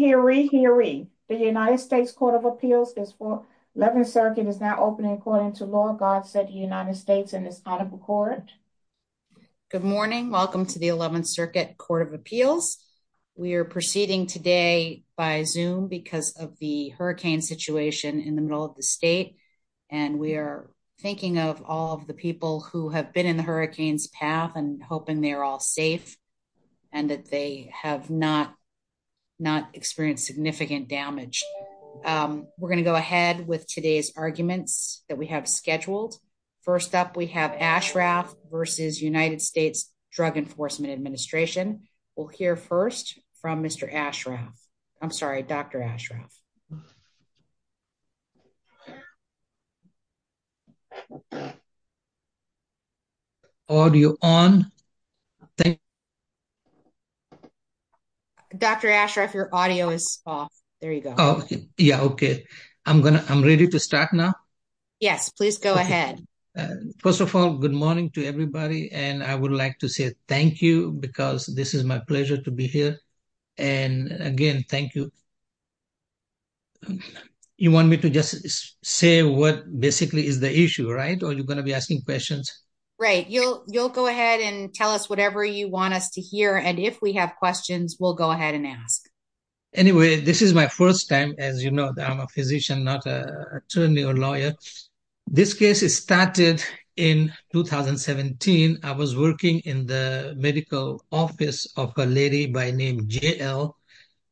hearing. The United States Court of Appeals is for 11th Circuit is now opening according to law. God said the United States and it's out of the court. Good morning. Welcome to the 11th Circuit Court of Appeals. We're proceeding today by zoom because of the hurricane situation in the middle of the state. And we're thinking of all of the people who have been in the hurricanes path and hoping they're all safe and that they have not not experienced significant damage. Um, we're gonna go ahead with today's arguments that we have scheduled. First up, we have Ashraf versus United States Drug Enforcement Administration. We'll hear first from Mr. Ashraf. I'm sorry, Dr. Ashraf. Audio on. Thank you. Dr. Ashraf, your audio is off. There you go. Yeah. Okay. I'm gonna I'm ready to start now. Yes, please go ahead. First of all, good morning to everybody. And I would like to say thank you because this is my pleasure to be here. And again, thank you. You want me to just say what basically is the issue, right? Or you're gonna be asking questions, right? You'll you'll go ahead and tell us whatever you want us to hear. And if we have questions, we'll go ahead and ask. Anyway, this is my first time. As you know, I'm a physician, not a attorney or lawyer. This case is started in 2017. I was working in the medical office of a lady by name J. L.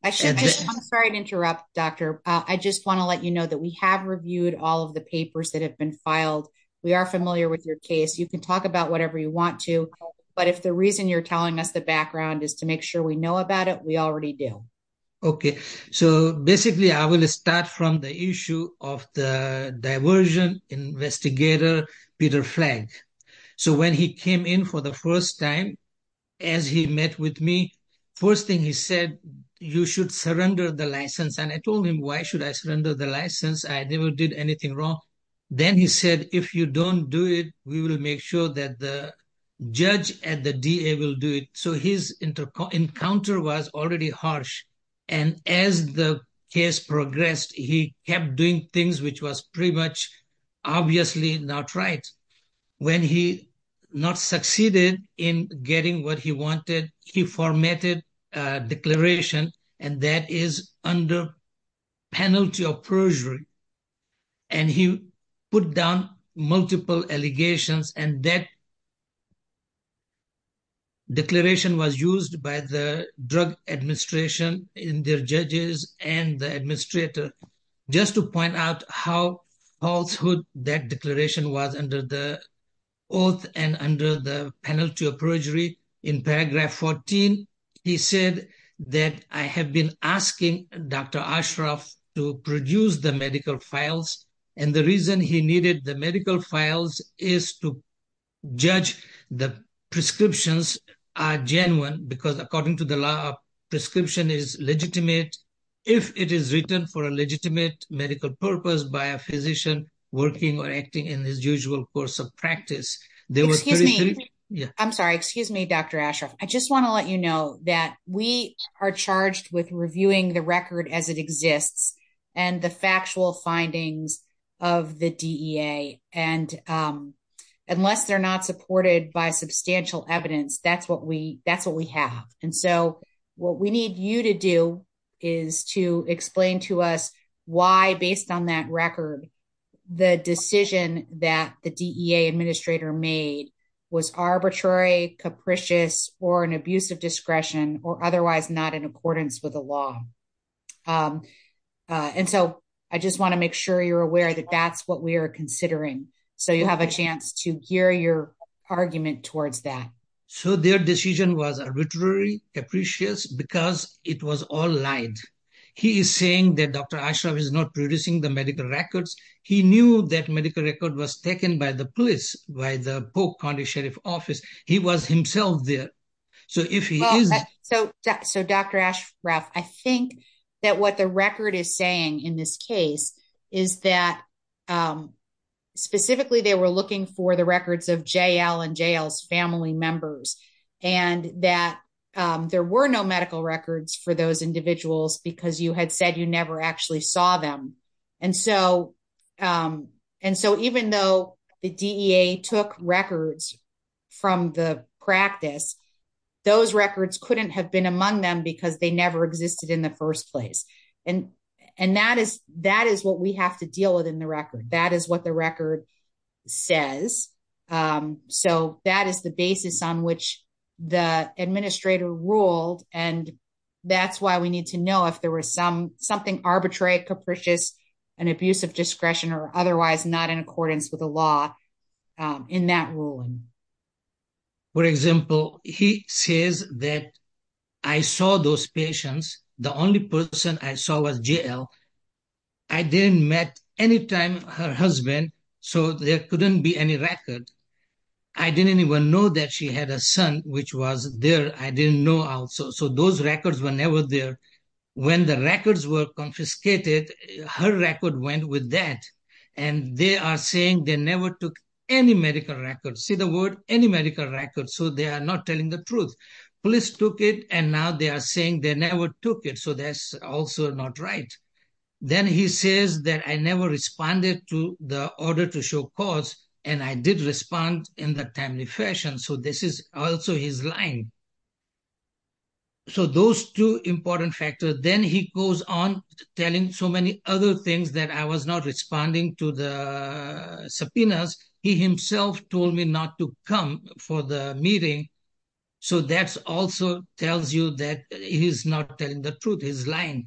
I should I'm sorry to interrupt, Doctor. I just want to let you know that we have reviewed all of the papers that have been filed. We are familiar with your case. You can talk about whatever you want to. But if the reason you're telling us the background is to make sure we know about it, we already do. Okay. So basically, I will start from the issue off the diversion investigator, Peter Flagg. So when he came in for the first time, as he met with me, first thing he said, you should surrender the license. And I told him, why should I surrender the license? I never did anything wrong. Then he said, if you don't do it, we will make sure that the judge at the D. A. Will do it. So his inter encounter was already harsh. And as the case progressed, he kept doing things which was pretty much obviously not right when he not succeeded in getting what he wanted. He formatted declaration and that is under penalty of perjury. And he put down multiple allegations. And that declaration was used by the drug administration in their judges and the administrator just to point out how falsehood that declaration was under the oath and under the penalty of perjury. In paragraph 14, he said that I have been asking Dr Ashraf to produce the medical files and the reason he needed the medical files is to judge the prescriptions are genuine because according to the law, prescription is legitimate. If it is written for a legitimate medical purpose by a physician working or acting in his usual course of practice, there was excuse me. I'm sorry. Excuse me, Dr Ashraf. I just want to let you know that we are charged with reviewing the record as it exists and the factual findings of the D. A. And unless they're not supported by substantial evidence, that's what we that's what we have. And so what we need you to do is to explain to us why, based on that record, the decision that the D. A. Administrator made was arbitrary, capricious or an abuse of discretion or otherwise not in accordance with the law. Um, and so I just want to make sure you're aware that that's what we're considering. So you have a chance to hear your argument towards that. So their decision was arbitrary, capricious because it was all lied. He is saying that Dr Ashraf is not producing the medical records. He knew that medical record was taken by the police, by the book condition of office. He was himself there. So if he is so. So, Dr Ashraf, I think that what the record is saying in this case is that, um, specifically, they were looking for the records of J. L. And jail's family members and that there were no medical records for those individuals because you had said you never actually saw them. And so, um, and so even though the D. A. Took records from the practice, those records couldn't have been among them because they never existed in the first place. And and that is that is what we have to deal with in the record. That is what the record says. Um, so that is the basis on which the administrator ruled. And that's why we need to know if there was some something arbitrary, capricious and abusive discretion or otherwise not in accordance with the law in that ruling. For example, he says that I saw those patients. The only person I saw was J. L. I didn't met any time her husband, so there couldn't be any record. I didn't even know that she had a son, which was there. I didn't know. Also, those records were never there. When the records were confiscated, her record went with that, and they are saying they never took any medical records. See the word any medical records. So they are not telling the truth. Police took it, and now they are saying they never took it. So that's also not right. Then he says that I never responded to the order to show cause, and I did respond in the timely fashion. So this is also his line. So those two important factors. Then he goes on telling so many other things that I was not responding to the subpoenas. He himself told me not to come for the meeting. So that's also tells you that he's not telling the truth. His line.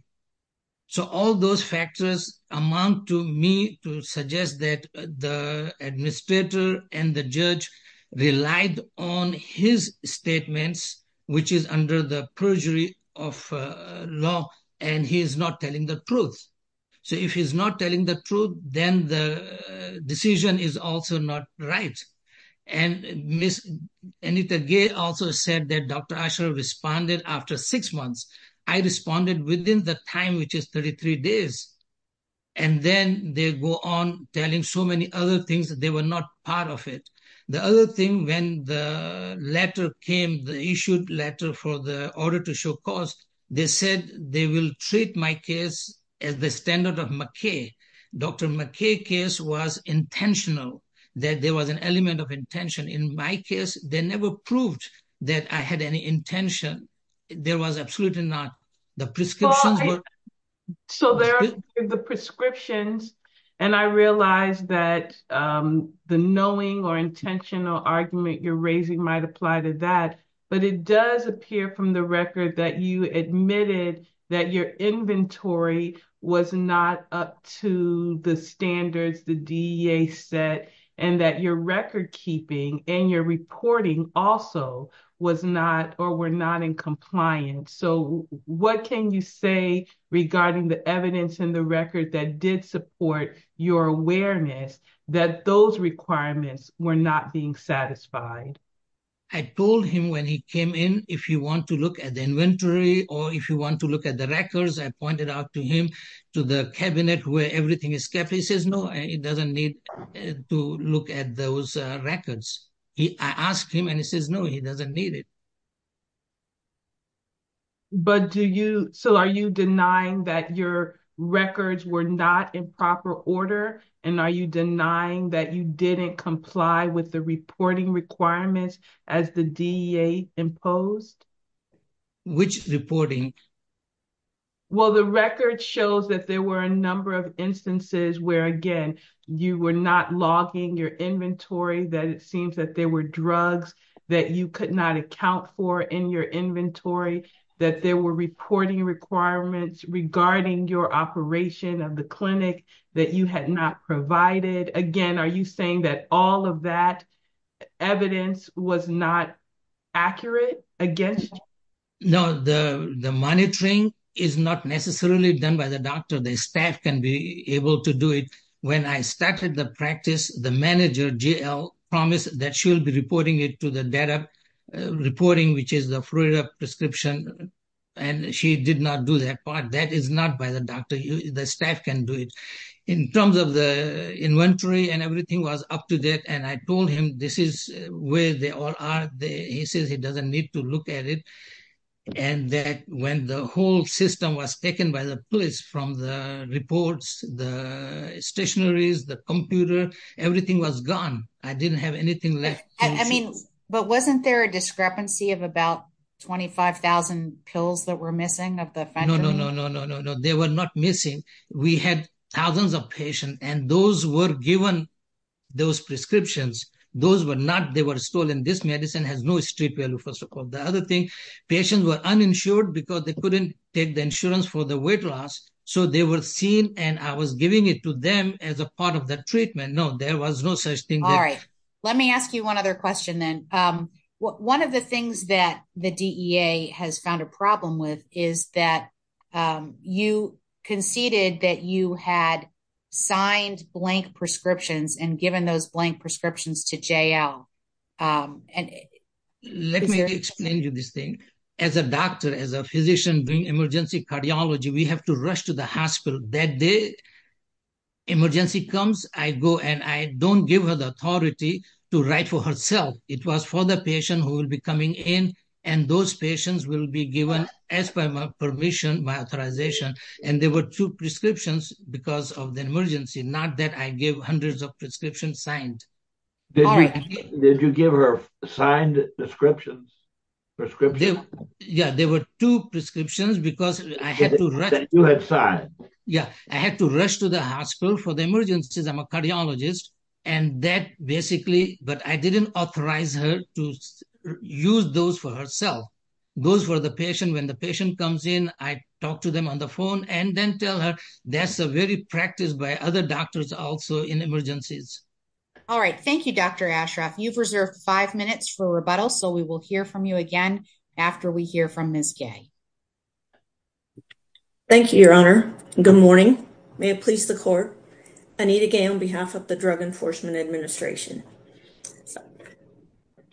So all those factors amount to me to suggest that the administrator and the judge relied on his statements, which is under the perjury off law, and he's not telling the truth. So if he's not telling the truth, then the decision is also not right. And Miss Anita Gay also said that Dr Asher responded after six months. I responded within the time, which is 33 days. And then they go on telling so many other things that they were not part of it. The other thing when the letter came, the issued letter for the order to show cause, they said they will treat my case as the standard of McKay. Dr McKay case was intentional that there was an element of intention in my case. They never proved that I had any intention. There was absolutely not the prescriptions. So there are the prescriptions, and I realized that, um, the knowing or intentional argument you're raising might apply to that. But it does appear from the record that you admitted that your inventory was not up to the standards the D. A. Set and that your record keeping and your reporting also was not or were not in compliance. So what can you say regarding the evidence in the record that did support your awareness that those requirements were not being satisfied? I told him when he came in, if you want to look at the inventory or if you want to look at the records, I pointed out to him to the cabinet where everything is kept. He says, No, it doesn't need to look at those records. I asked him and he says, No, he doesn't need it. But do you? So are you denying that your records were not in proper order? And are you denying that you didn't comply with the reporting requirements as the D. A. Imposed? Which reporting? Well, the record shows that there were a number of instances where again, you were not logging your inventory that it seems that there were drugs that you could not account for in your inventory, that there were reporting requirements regarding your operation of the clinic that you had not provided again. Are you saying that all of that evidence was not accurate against? No, the monitoring is not necessarily done by the doctor. The staff can be able to do it. When I started the practice, the manager, J. L. Promise that she'll be reporting it to the data reporting, which is the Florida prescription. And she did not do that part. That is not by the doctor. The staff can do it in terms of the inventory and everything was up to date. And I told him this is where they all are. He says he doesn't need to look at it. And that when the whole system was taken by the police from the reports, the stationeries, the computer, everything was gone. I didn't have anything left. I mean, but wasn't there a discrepancy of about 25,000 pills that were missing of the no, no, no, no, no, no, no. They were not missing. We had thousands of patient and those were given those prescriptions. Those were not. They were stolen. This medicine has no street value. First of all, the other thing patients were uninsured because they couldn't take the insurance for the weight loss. So they were seen and I was giving it to them as a part of the treatment. No, there was no such thing. All right, let me ask you one other question. Then, um, one of the things that the D. A. Has found a problem with is that, um, you conceded that you had signed blank prescriptions and given those blank prescriptions to J. L. Um, and let me explain you this thing. As a doctor, as a physician doing emergency cardiology, we have to rush to the hospital that day. Emergency comes, I go and I don't give her the authority to write for herself. It was for the patient who will be coming in and those patients will be given as per my permission, my authorization. And there were two prescriptions because of the emergency. Not that I give hundreds of prescriptions signed. Did you give her signed prescriptions? Yeah, there were two prescriptions because I had to rush to the hospital for the emergencies. I'm a cardiologist and that basically, but I didn't authorize her to use those for herself. Those were the patient. When the patient comes in, I talked to them on the phone and then tell her that's a very practiced by other doctors. Also in emergencies. All right. Thank you, Dr Ashraf. You've reserved five minutes for rebuttal, so we will hear from you again after we hear from Miss Gay. Thank you, Your Honor. Good morning. May it please the court. I need again on behalf of the Drug Enforcement Administration.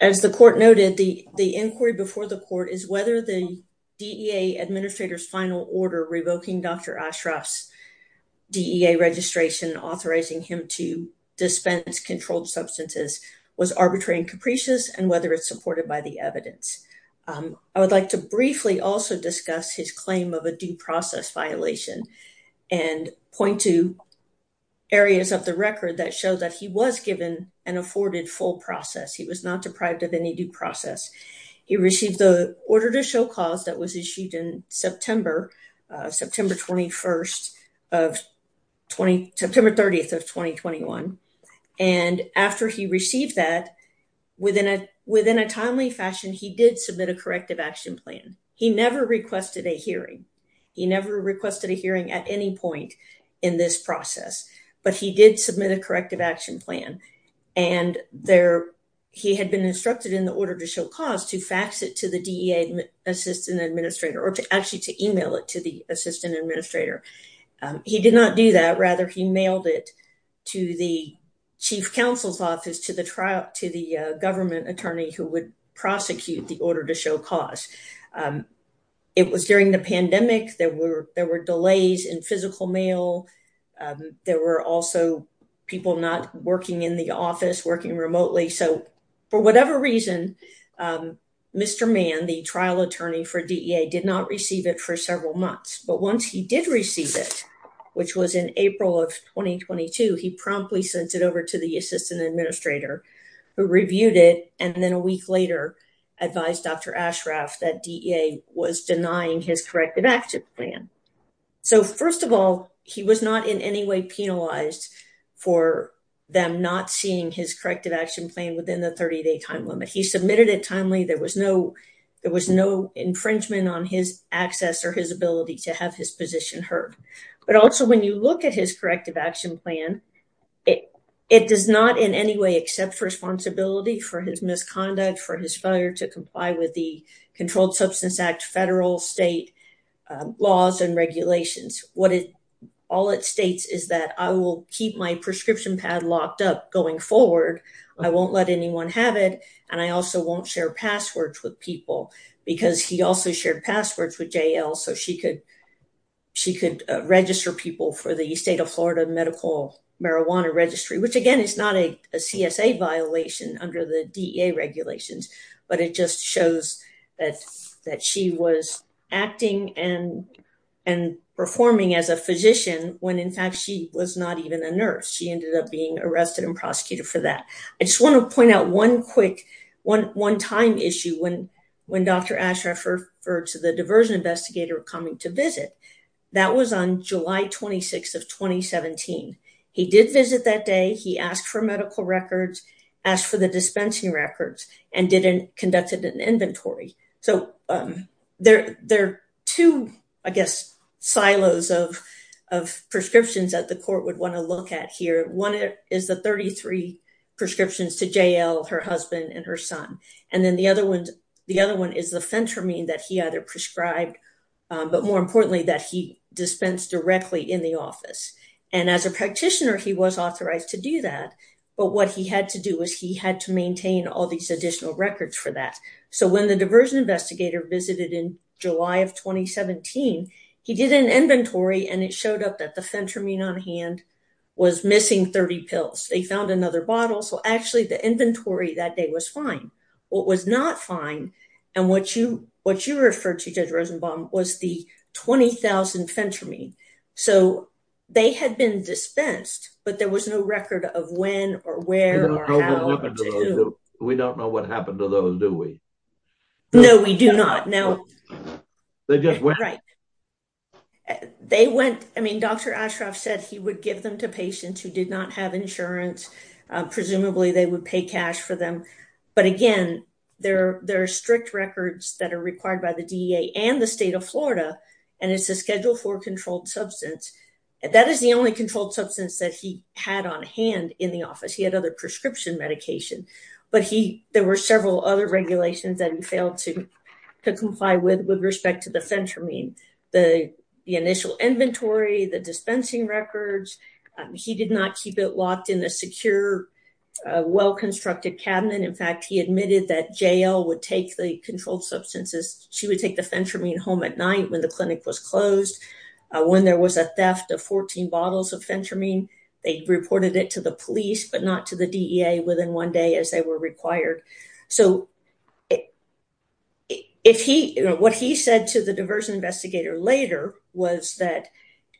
As the court noted, the inquiry before the court is whether the D. A. Administrator's final order revoking Dr Ashraf's D. A. Registration, authorizing him to dispense controlled substances was arbitrary and capricious and whether it's supported by the evidence. I would like to briefly also discuss his claim of a due process violation and point to areas of the record that showed that he was given an afforded full process. He was not deprived of any due process. He received the order to show cause that was issued in September, September 21st of 20, September 30th of 2021. And after he received that within a within a timely fashion, he did submit a corrective action plan. He never requested a hearing. He never requested a hearing at any point in this process, but he did submit a corrective action plan and there he had been instructed in the order to show cause to fax it to the D. A. Assistant Administrator or actually to email it to the assistant administrator. He did not do that. Rather, he mailed it to the chief counsel's office to the trial to the government attorney who would prosecute the order to show cause. Um, it was during the pandemic. There were there were delays in physical mail. Um, there were also people not working in the office, working remotely. So for whatever reason, um, Mr Man, the trial attorney for D. A. Did not receive it for several months. But once he did receive it, which was in April of 2022, he promptly sent it over to the assistant administrator who reviewed it. And then a week later advised Dr Ashraf that D. A. Was denying his corrective action plan. So, first of all, he was not in any way penalized for them not seeing his corrective action plan within the 30 day time limit. He submitted it timely. There was no, there was no infringement on his access or his ability to have his position heard. But also, when you look at his corrective action plan, it it does not in any way except responsibility for his misconduct, for his failure to comply with the Controlled Substance Act, federal, state laws and regulations. What it all it states is that I will keep my prescription pad locked up going forward. I won't let anyone have it. And I also won't share passwords with people because he also shared passwords with J. L. So she could she could register people for the state of Florida Medical Marijuana Registry, which again is not a C. S. A. Violation under the D. A. Regulations. But it just shows that that she was acting and and performing as a physician when in fact she was not even a nurse. She ended up being arrested and prosecuted for that. I just want to point out one quick one one time issue when when Dr Ashraf referred to the diversion investigator coming to visit. That was on July 26 of 2017. He did visit that day. He asked for medical records, asked for the dispensing records and didn't conducted an inventory. So, um, there there two, I guess, silos of of prescriptions that the court would want to look at here. One is the 33 prescriptions to J. L. Her husband and her son. And then the other one, the other one is the fentanyl that he either prescribed, but more importantly that he dispensed directly in the office. And as a practitioner, he was authorized to do that. But what he had to do was he had to maintain all these additional records for that. So when the diversion investigator visited in July of 2017, he did an inventory and it showed up that the fentanyl on hand was missing 30 pills. They found another bottle. So actually the inventory that day was fine. What was not fine and what you what you refer to Judge Rosenbaum was the 20,000 fentanyl. So they had been dispensed, but there was no record of when or where or how we don't know what happened to those. Do we? No, we do not know. They just went right. They went. I mean, Dr Ashraf said he would give them to patients who did not have insurance. Presumably they would pay cash for them. But again, there there are strict records that are required by the D. A. And the state of florida. And it's a schedule for controlled substance. That is the only controlled substance that he had on hand in the office. He had other prescription medication, but he there were several other regulations that he failed to comply with with respect to the fentanyl, the initial inventory, the dispensing records. He did not keep it locked in a secure, well constructed cabinet. In fact, he admitted that jail would take the controlled substances. She would take the fentanyl home at night when the clinic was closed. When there was a theft of 14 bottles of fentanyl, they reported it to the police, but not to the D. A. Within one day as they were required. So if he what he said to the diversion investigator later was that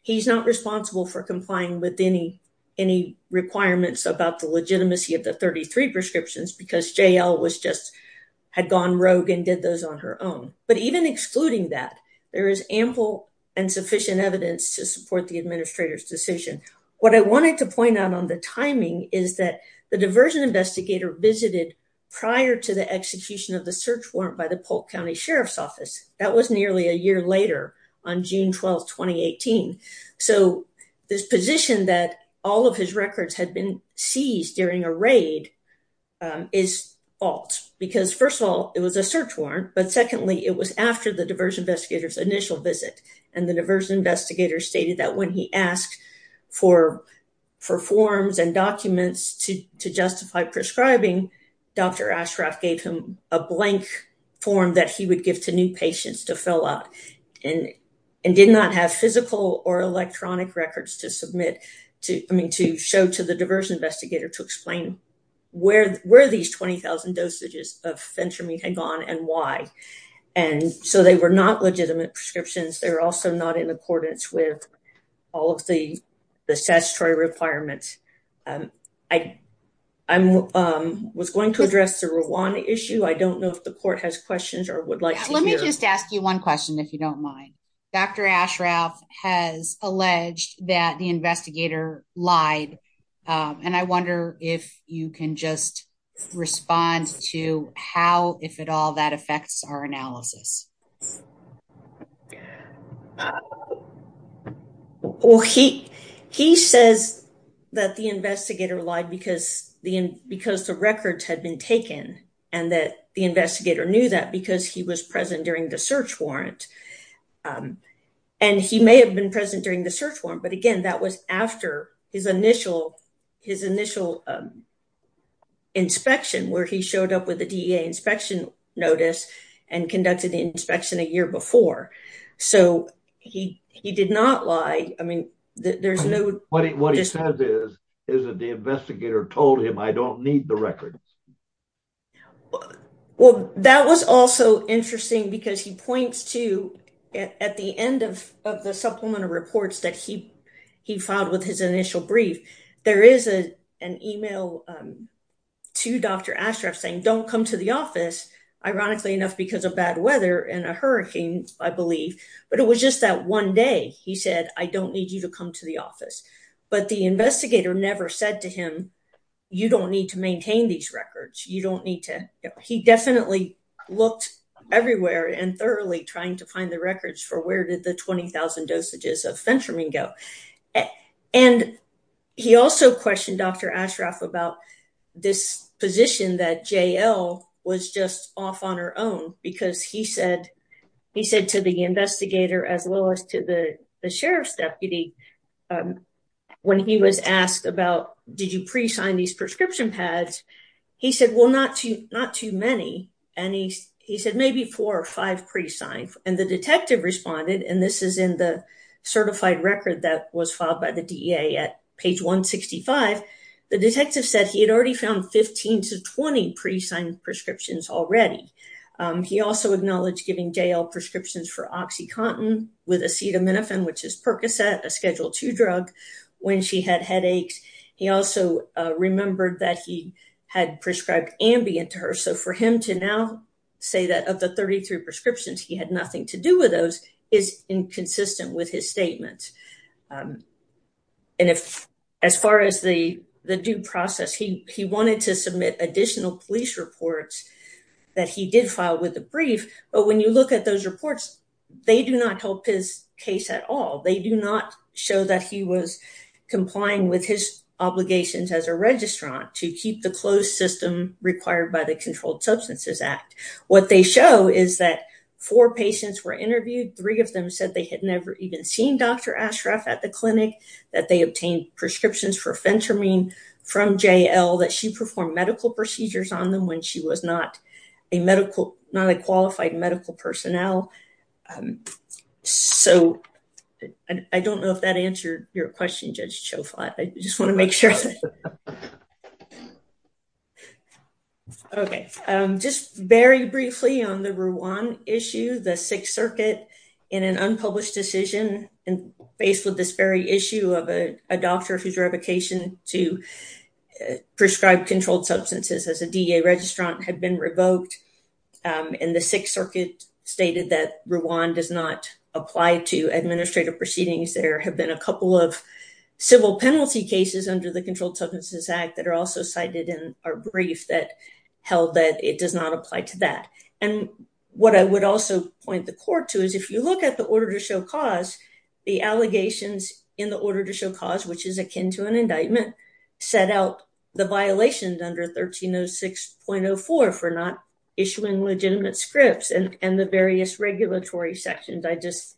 he's not responsible for complying with any any requirements about the legitimacy of the 33 prescriptions because J. L. Was just had gone rogue and did those on her own. But even excluding that there is ample and sufficient evidence to support the administrator's decision. What I wanted to point out on the timing is that the diversion investigator visited prior to the execution of the search warrant by the Polk County Sheriff's Office. That was nearly a year later on June 12 2018. So this position that all of his records had been seized during a raid, um, is false because, first of all, it was a search warrant. But secondly, it was after the diversion investigators initial visit, and the diversion investigator stated that when he asked for for forms and documents to justify prescribing, Dr Ashraf gave him a blank form that he would give to new patients to fill out and and did not have physical or electronic records to submit. I mean, to show to the diversion investigator to explain where where these 20,000 dosages of fentanyl had gone and why. And so they were not legitimate prescriptions. They're also not in accordance with all of the statutory requirements. Um, I I was going to address the Rwanda issue. I don't know if the court has questions or would like to hear. Let me just ask you one question if you don't mind. Dr Ashraf has alleged that the investigator lied on. I wonder if you can just respond to how, if at all, that affects our analysis. Uh, well, he he says that the investigator lied because because the records had been taken and that the investigator knew that because he was present during the search warrant. Um, and he may have been present during the search warrant. But again, that was after his initial his initial, um, inspection where he showed up with the D. A. Inspection notice and conducted the inspection a year before. So he he did not lie. I mean, there's no what he what he says is, is that the investigator told him I don't need the records. Well, that was also interesting because he points to at the end of the supplemental reports that he he filed with his initial brief. There is a an email, um, to Dr Ashraf saying don't come to the office. Ironically enough, because of bad weather and a hurricane, I believe. But it was just that one day he said, I don't need you to come to the office. But the investigator never said to him, You don't need to maintain these records. You don't need to. He definitely looked everywhere and thoroughly trying to find the records for where did the 20,000 dosages of fentanyl go? And he also questioned Dr Ashraf about this position that J. L. Was just off on her own because he said he said to the investigator as well as to the sheriff's deputy. Um, when he was asked about, did you pre sign these prescription pads? He said, well, not too, not too many. And he said maybe four or five pre signed. And the detective responded. And this is in the certified record that was filed by the D. A. At page 1 65. The detective said he had already found 15 to 20 pre signed prescriptions already. Um, he also acknowledged giving jail prescriptions for oxycontin with acetaminophen, which is percocet, a two drug when she had headaches. He also remembered that he had prescribed ambient to her. So for him to now say that of the 33 prescriptions, he had nothing to do with those is inconsistent with his statement. Um, and if as far as the due process, he wanted to submit additional police reports that he did file with the brief. But when you look at those reports, they do not help his case at all. They do not show that he was complying with his obligations as a registrant to keep the closed system required by the Controlled Substances Act. What they show is that four patients were interviewed. Three of them said they had never even seen Dr Ashraf at the clinic that they obtained prescriptions for fentanyl from J. L. That she performed medical procedures on them when she was not a medical, not a um, so I don't know if that answered your question. Judge show five. I just want to make sure. Okay. Um, just very briefly on the one issue, the Sixth Circuit in an unpublished decision and faced with this very issue of a doctor whose revocation to prescribed controlled substances as a D. A. Registrant had been revoked. Um, in the Sixth Circuit stated that Rwan does not apply to administrative proceedings. There have been a couple of civil penalty cases under the Controlled Substances Act that are also cited in our brief that held that it does not apply to that. And what I would also point the court to is if you look at the order to show cause the allegations in the order to show cause, which is akin to an indictment, set out the violations under 1306.04 for not issuing legitimate scripts and the various regulatory sections I just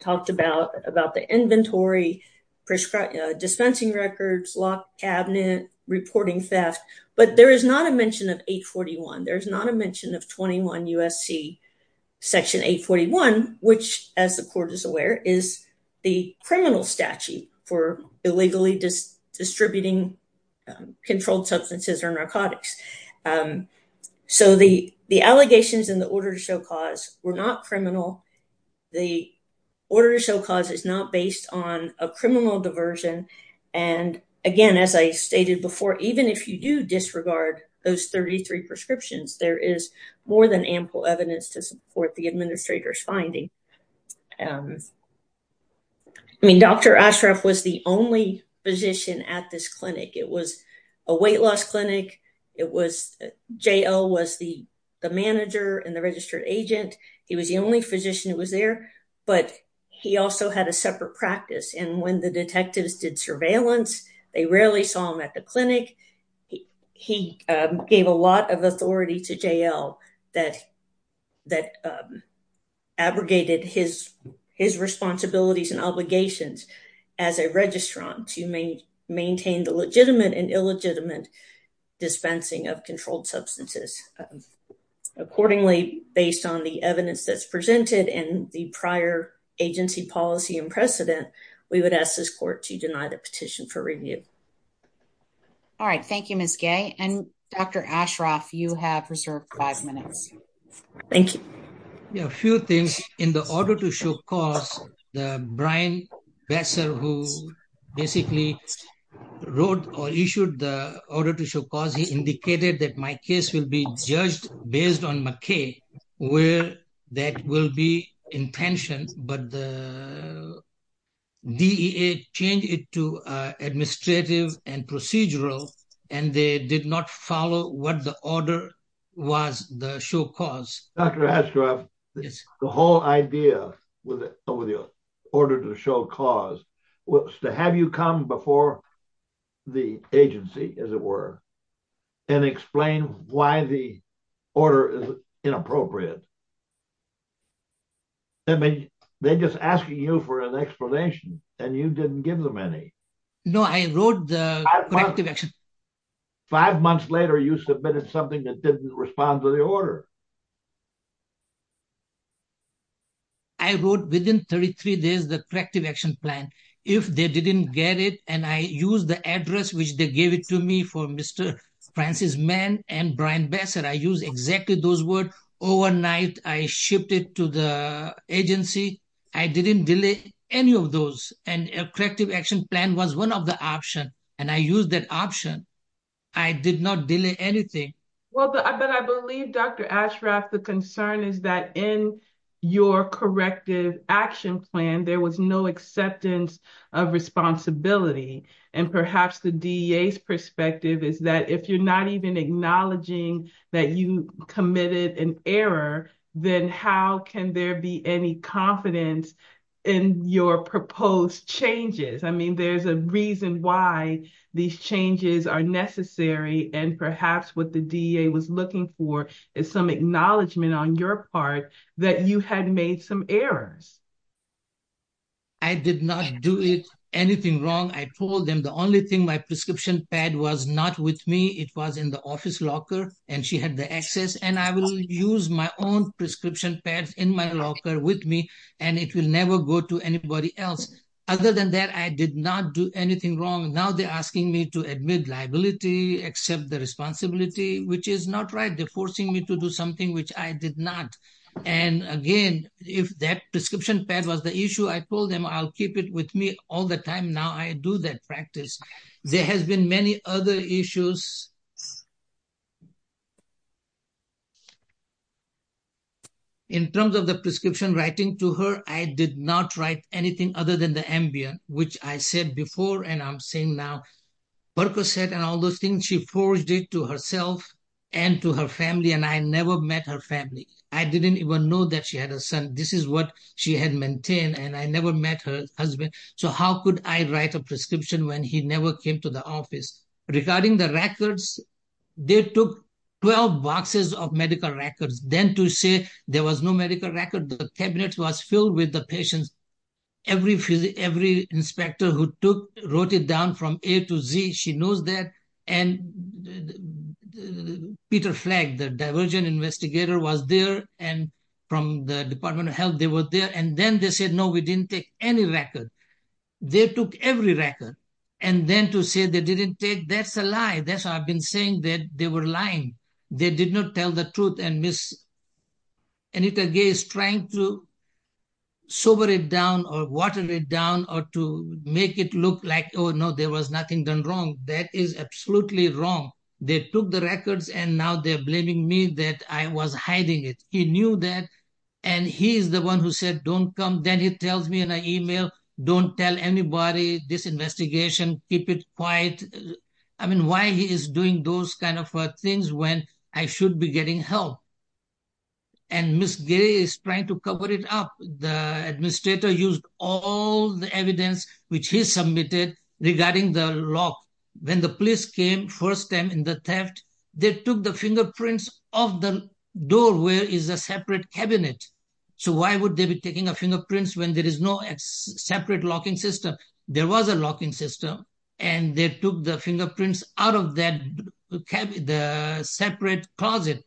talked about about the inventory, dispensing records, locked cabinet reporting theft. But there is not a mention of 841. There's not a mention of 21 U. S. C. Section 8 41, which, as the court is aware, is the criminal statute for illegally distributing controlled substances or narcotics. Um, so the allegations in the order to show cause were not criminal. The order to show cause is not based on a criminal diversion. And again, as I stated before, even if you do disregard those 33 prescriptions, there is more than ample evidence to support the administrator's finding. Um, I mean, Dr Ashraf was the only position at this clinic. It was a weight loss clinic. It was J. L. Was the manager and the registered agent. He was the only physician who was there, but he also had a separate practice. And when the detectives did surveillance, they rarely saw him at the clinic. He gave a lot of authority to J. L. That that, um, abrogated his his responsibilities and obligations as a registrant. You may maintain the legitimate and illegitimate dispensing of controlled substances. Um, accordingly, based on the evidence that's presented and the prior agency policy and precedent, we would ask this court to deny the petition for review. Mhm. All right. Thank you, Miss Gay. And Dr Ashraf, you have reserved five minutes. Thank you. A few things in the order to show cause the Brian Besser, who basically wrote or issued the order to show cause. He indicated that my case will be judged based on McKay, where that will be intentioned. But the D. A. Change it to administrative and procedural, and they did not follow what the order was. The show cause Dr Ashraf. The whole idea with over the order to show cause to have you come before the agency, as it were, and explain why the order is inappropriate. I mean, they're just asking you for an explanation, and you didn't give them any. No, I wrote the corrective action. Five months later, you submitted something that didn't respond to the order. I wrote within 33 days the corrective action plan if they didn't get it. And I use the address which they gave it to me for Mr Francis man and Brian Besser. I use exactly those words. Overnight I shipped it to the agency. I didn't delay any of those. And corrective action plan was one of the option, and I used that option. I did not delay anything. Well, but I believe Dr Ashraf. The concern is that in your corrective action plan, there was no acceptance of responsibility. And perhaps the D. A. S. Perspective is that if you're not even acknowledging that you committed an error, then how can there be any confidence in your proposed changes? I mean, there's a reason why these changes are necessary. And perhaps what the D. A. Was looking for is some acknowledgement on your part that you had made some errors. I did not do it anything wrong. I told them the only thing my prescription pad was not with me. It was in the office locker, and she had the access, and I will use my own prescription pads in my locker with me, and it will never go to anybody else. Other than that, I did not do anything wrong. Now they're asking me to admit liability, accept the responsibility, which is not right. They're forcing me to do something which I did not. And again, if that description pad was the issue, I told them I'll keep it with me all the time. Now I do that practice. There has been many other issues. In terms of the prescription writing to her, I did not write anything other than the Ambien, which I said before, and I'm saying now, Berko said and all those things, she forged it to herself and to her family, and I never met her family. I didn't even know that she had a son. This is what she had maintained, and I never met her husband, so how could I write a prescription when he never came to the office? Regarding the records, they took 12 boxes of medical records. Then to say there was no medical record, the cabinet was filled with the patients. Every inspector who wrote it down from A to Z, she knows that, and Peter Flagg, the divergent investigator was there, and from the Department of Health, they were there, and then they said, no, we didn't take any record. They took every record, and then to say they didn't take, that's a lie. That's why I've been saying that they were lying. They did not tell the truth, and Miss Anita Gay is trying to sober it down or water it down or to make it look like, oh, no, there was nothing done wrong. That is absolutely wrong. They took the records, and now they're blaming me that I was hiding it. He knew that, and he's the one who said, don't come. Then he tells me in an email, don't tell anybody, this investigation, keep it quiet. I mean, why he is doing those kind of things when I should be getting help? And Miss Gay is trying to cover it up. The administrator used all the evidence which he submitted regarding the lock. When the police came first time in the theft, they took the fingerprints of the door where is a separate cabinet. So why would they be taking a fingerprints when there is no separate locking system? There was a locking system, and they took the fingerprints out of that separate closet.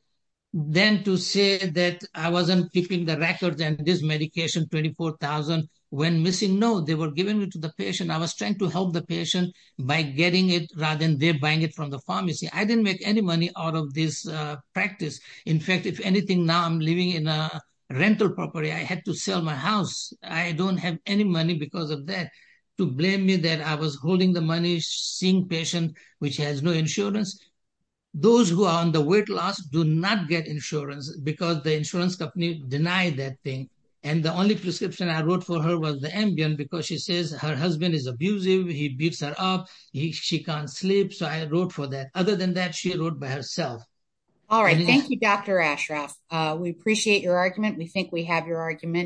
Then to say that I wasn't keeping the records and this medication, 24,000, when missing, no, they were giving it to the patient. I was trying to help the patient by getting it rather than they're buying it from the pharmacy. I didn't make any money out of this practice. In fact, if anything, now I'm living in a rental property. I had to sell my house. I don't have any money because of that to blame me that I was holding the money, seeing patient which has no insurance. Those who are on the weight loss do not get insurance because the insurance company denied that thing. And the only prescription I wrote for her was the Ambien because she says her husband is abusive. He beats her up. She can't sleep. So I wrote for that. Other than that, she wrote by herself. All right. Thank you, Dr Ashraf. We appreciate your argument. We think we have your argument.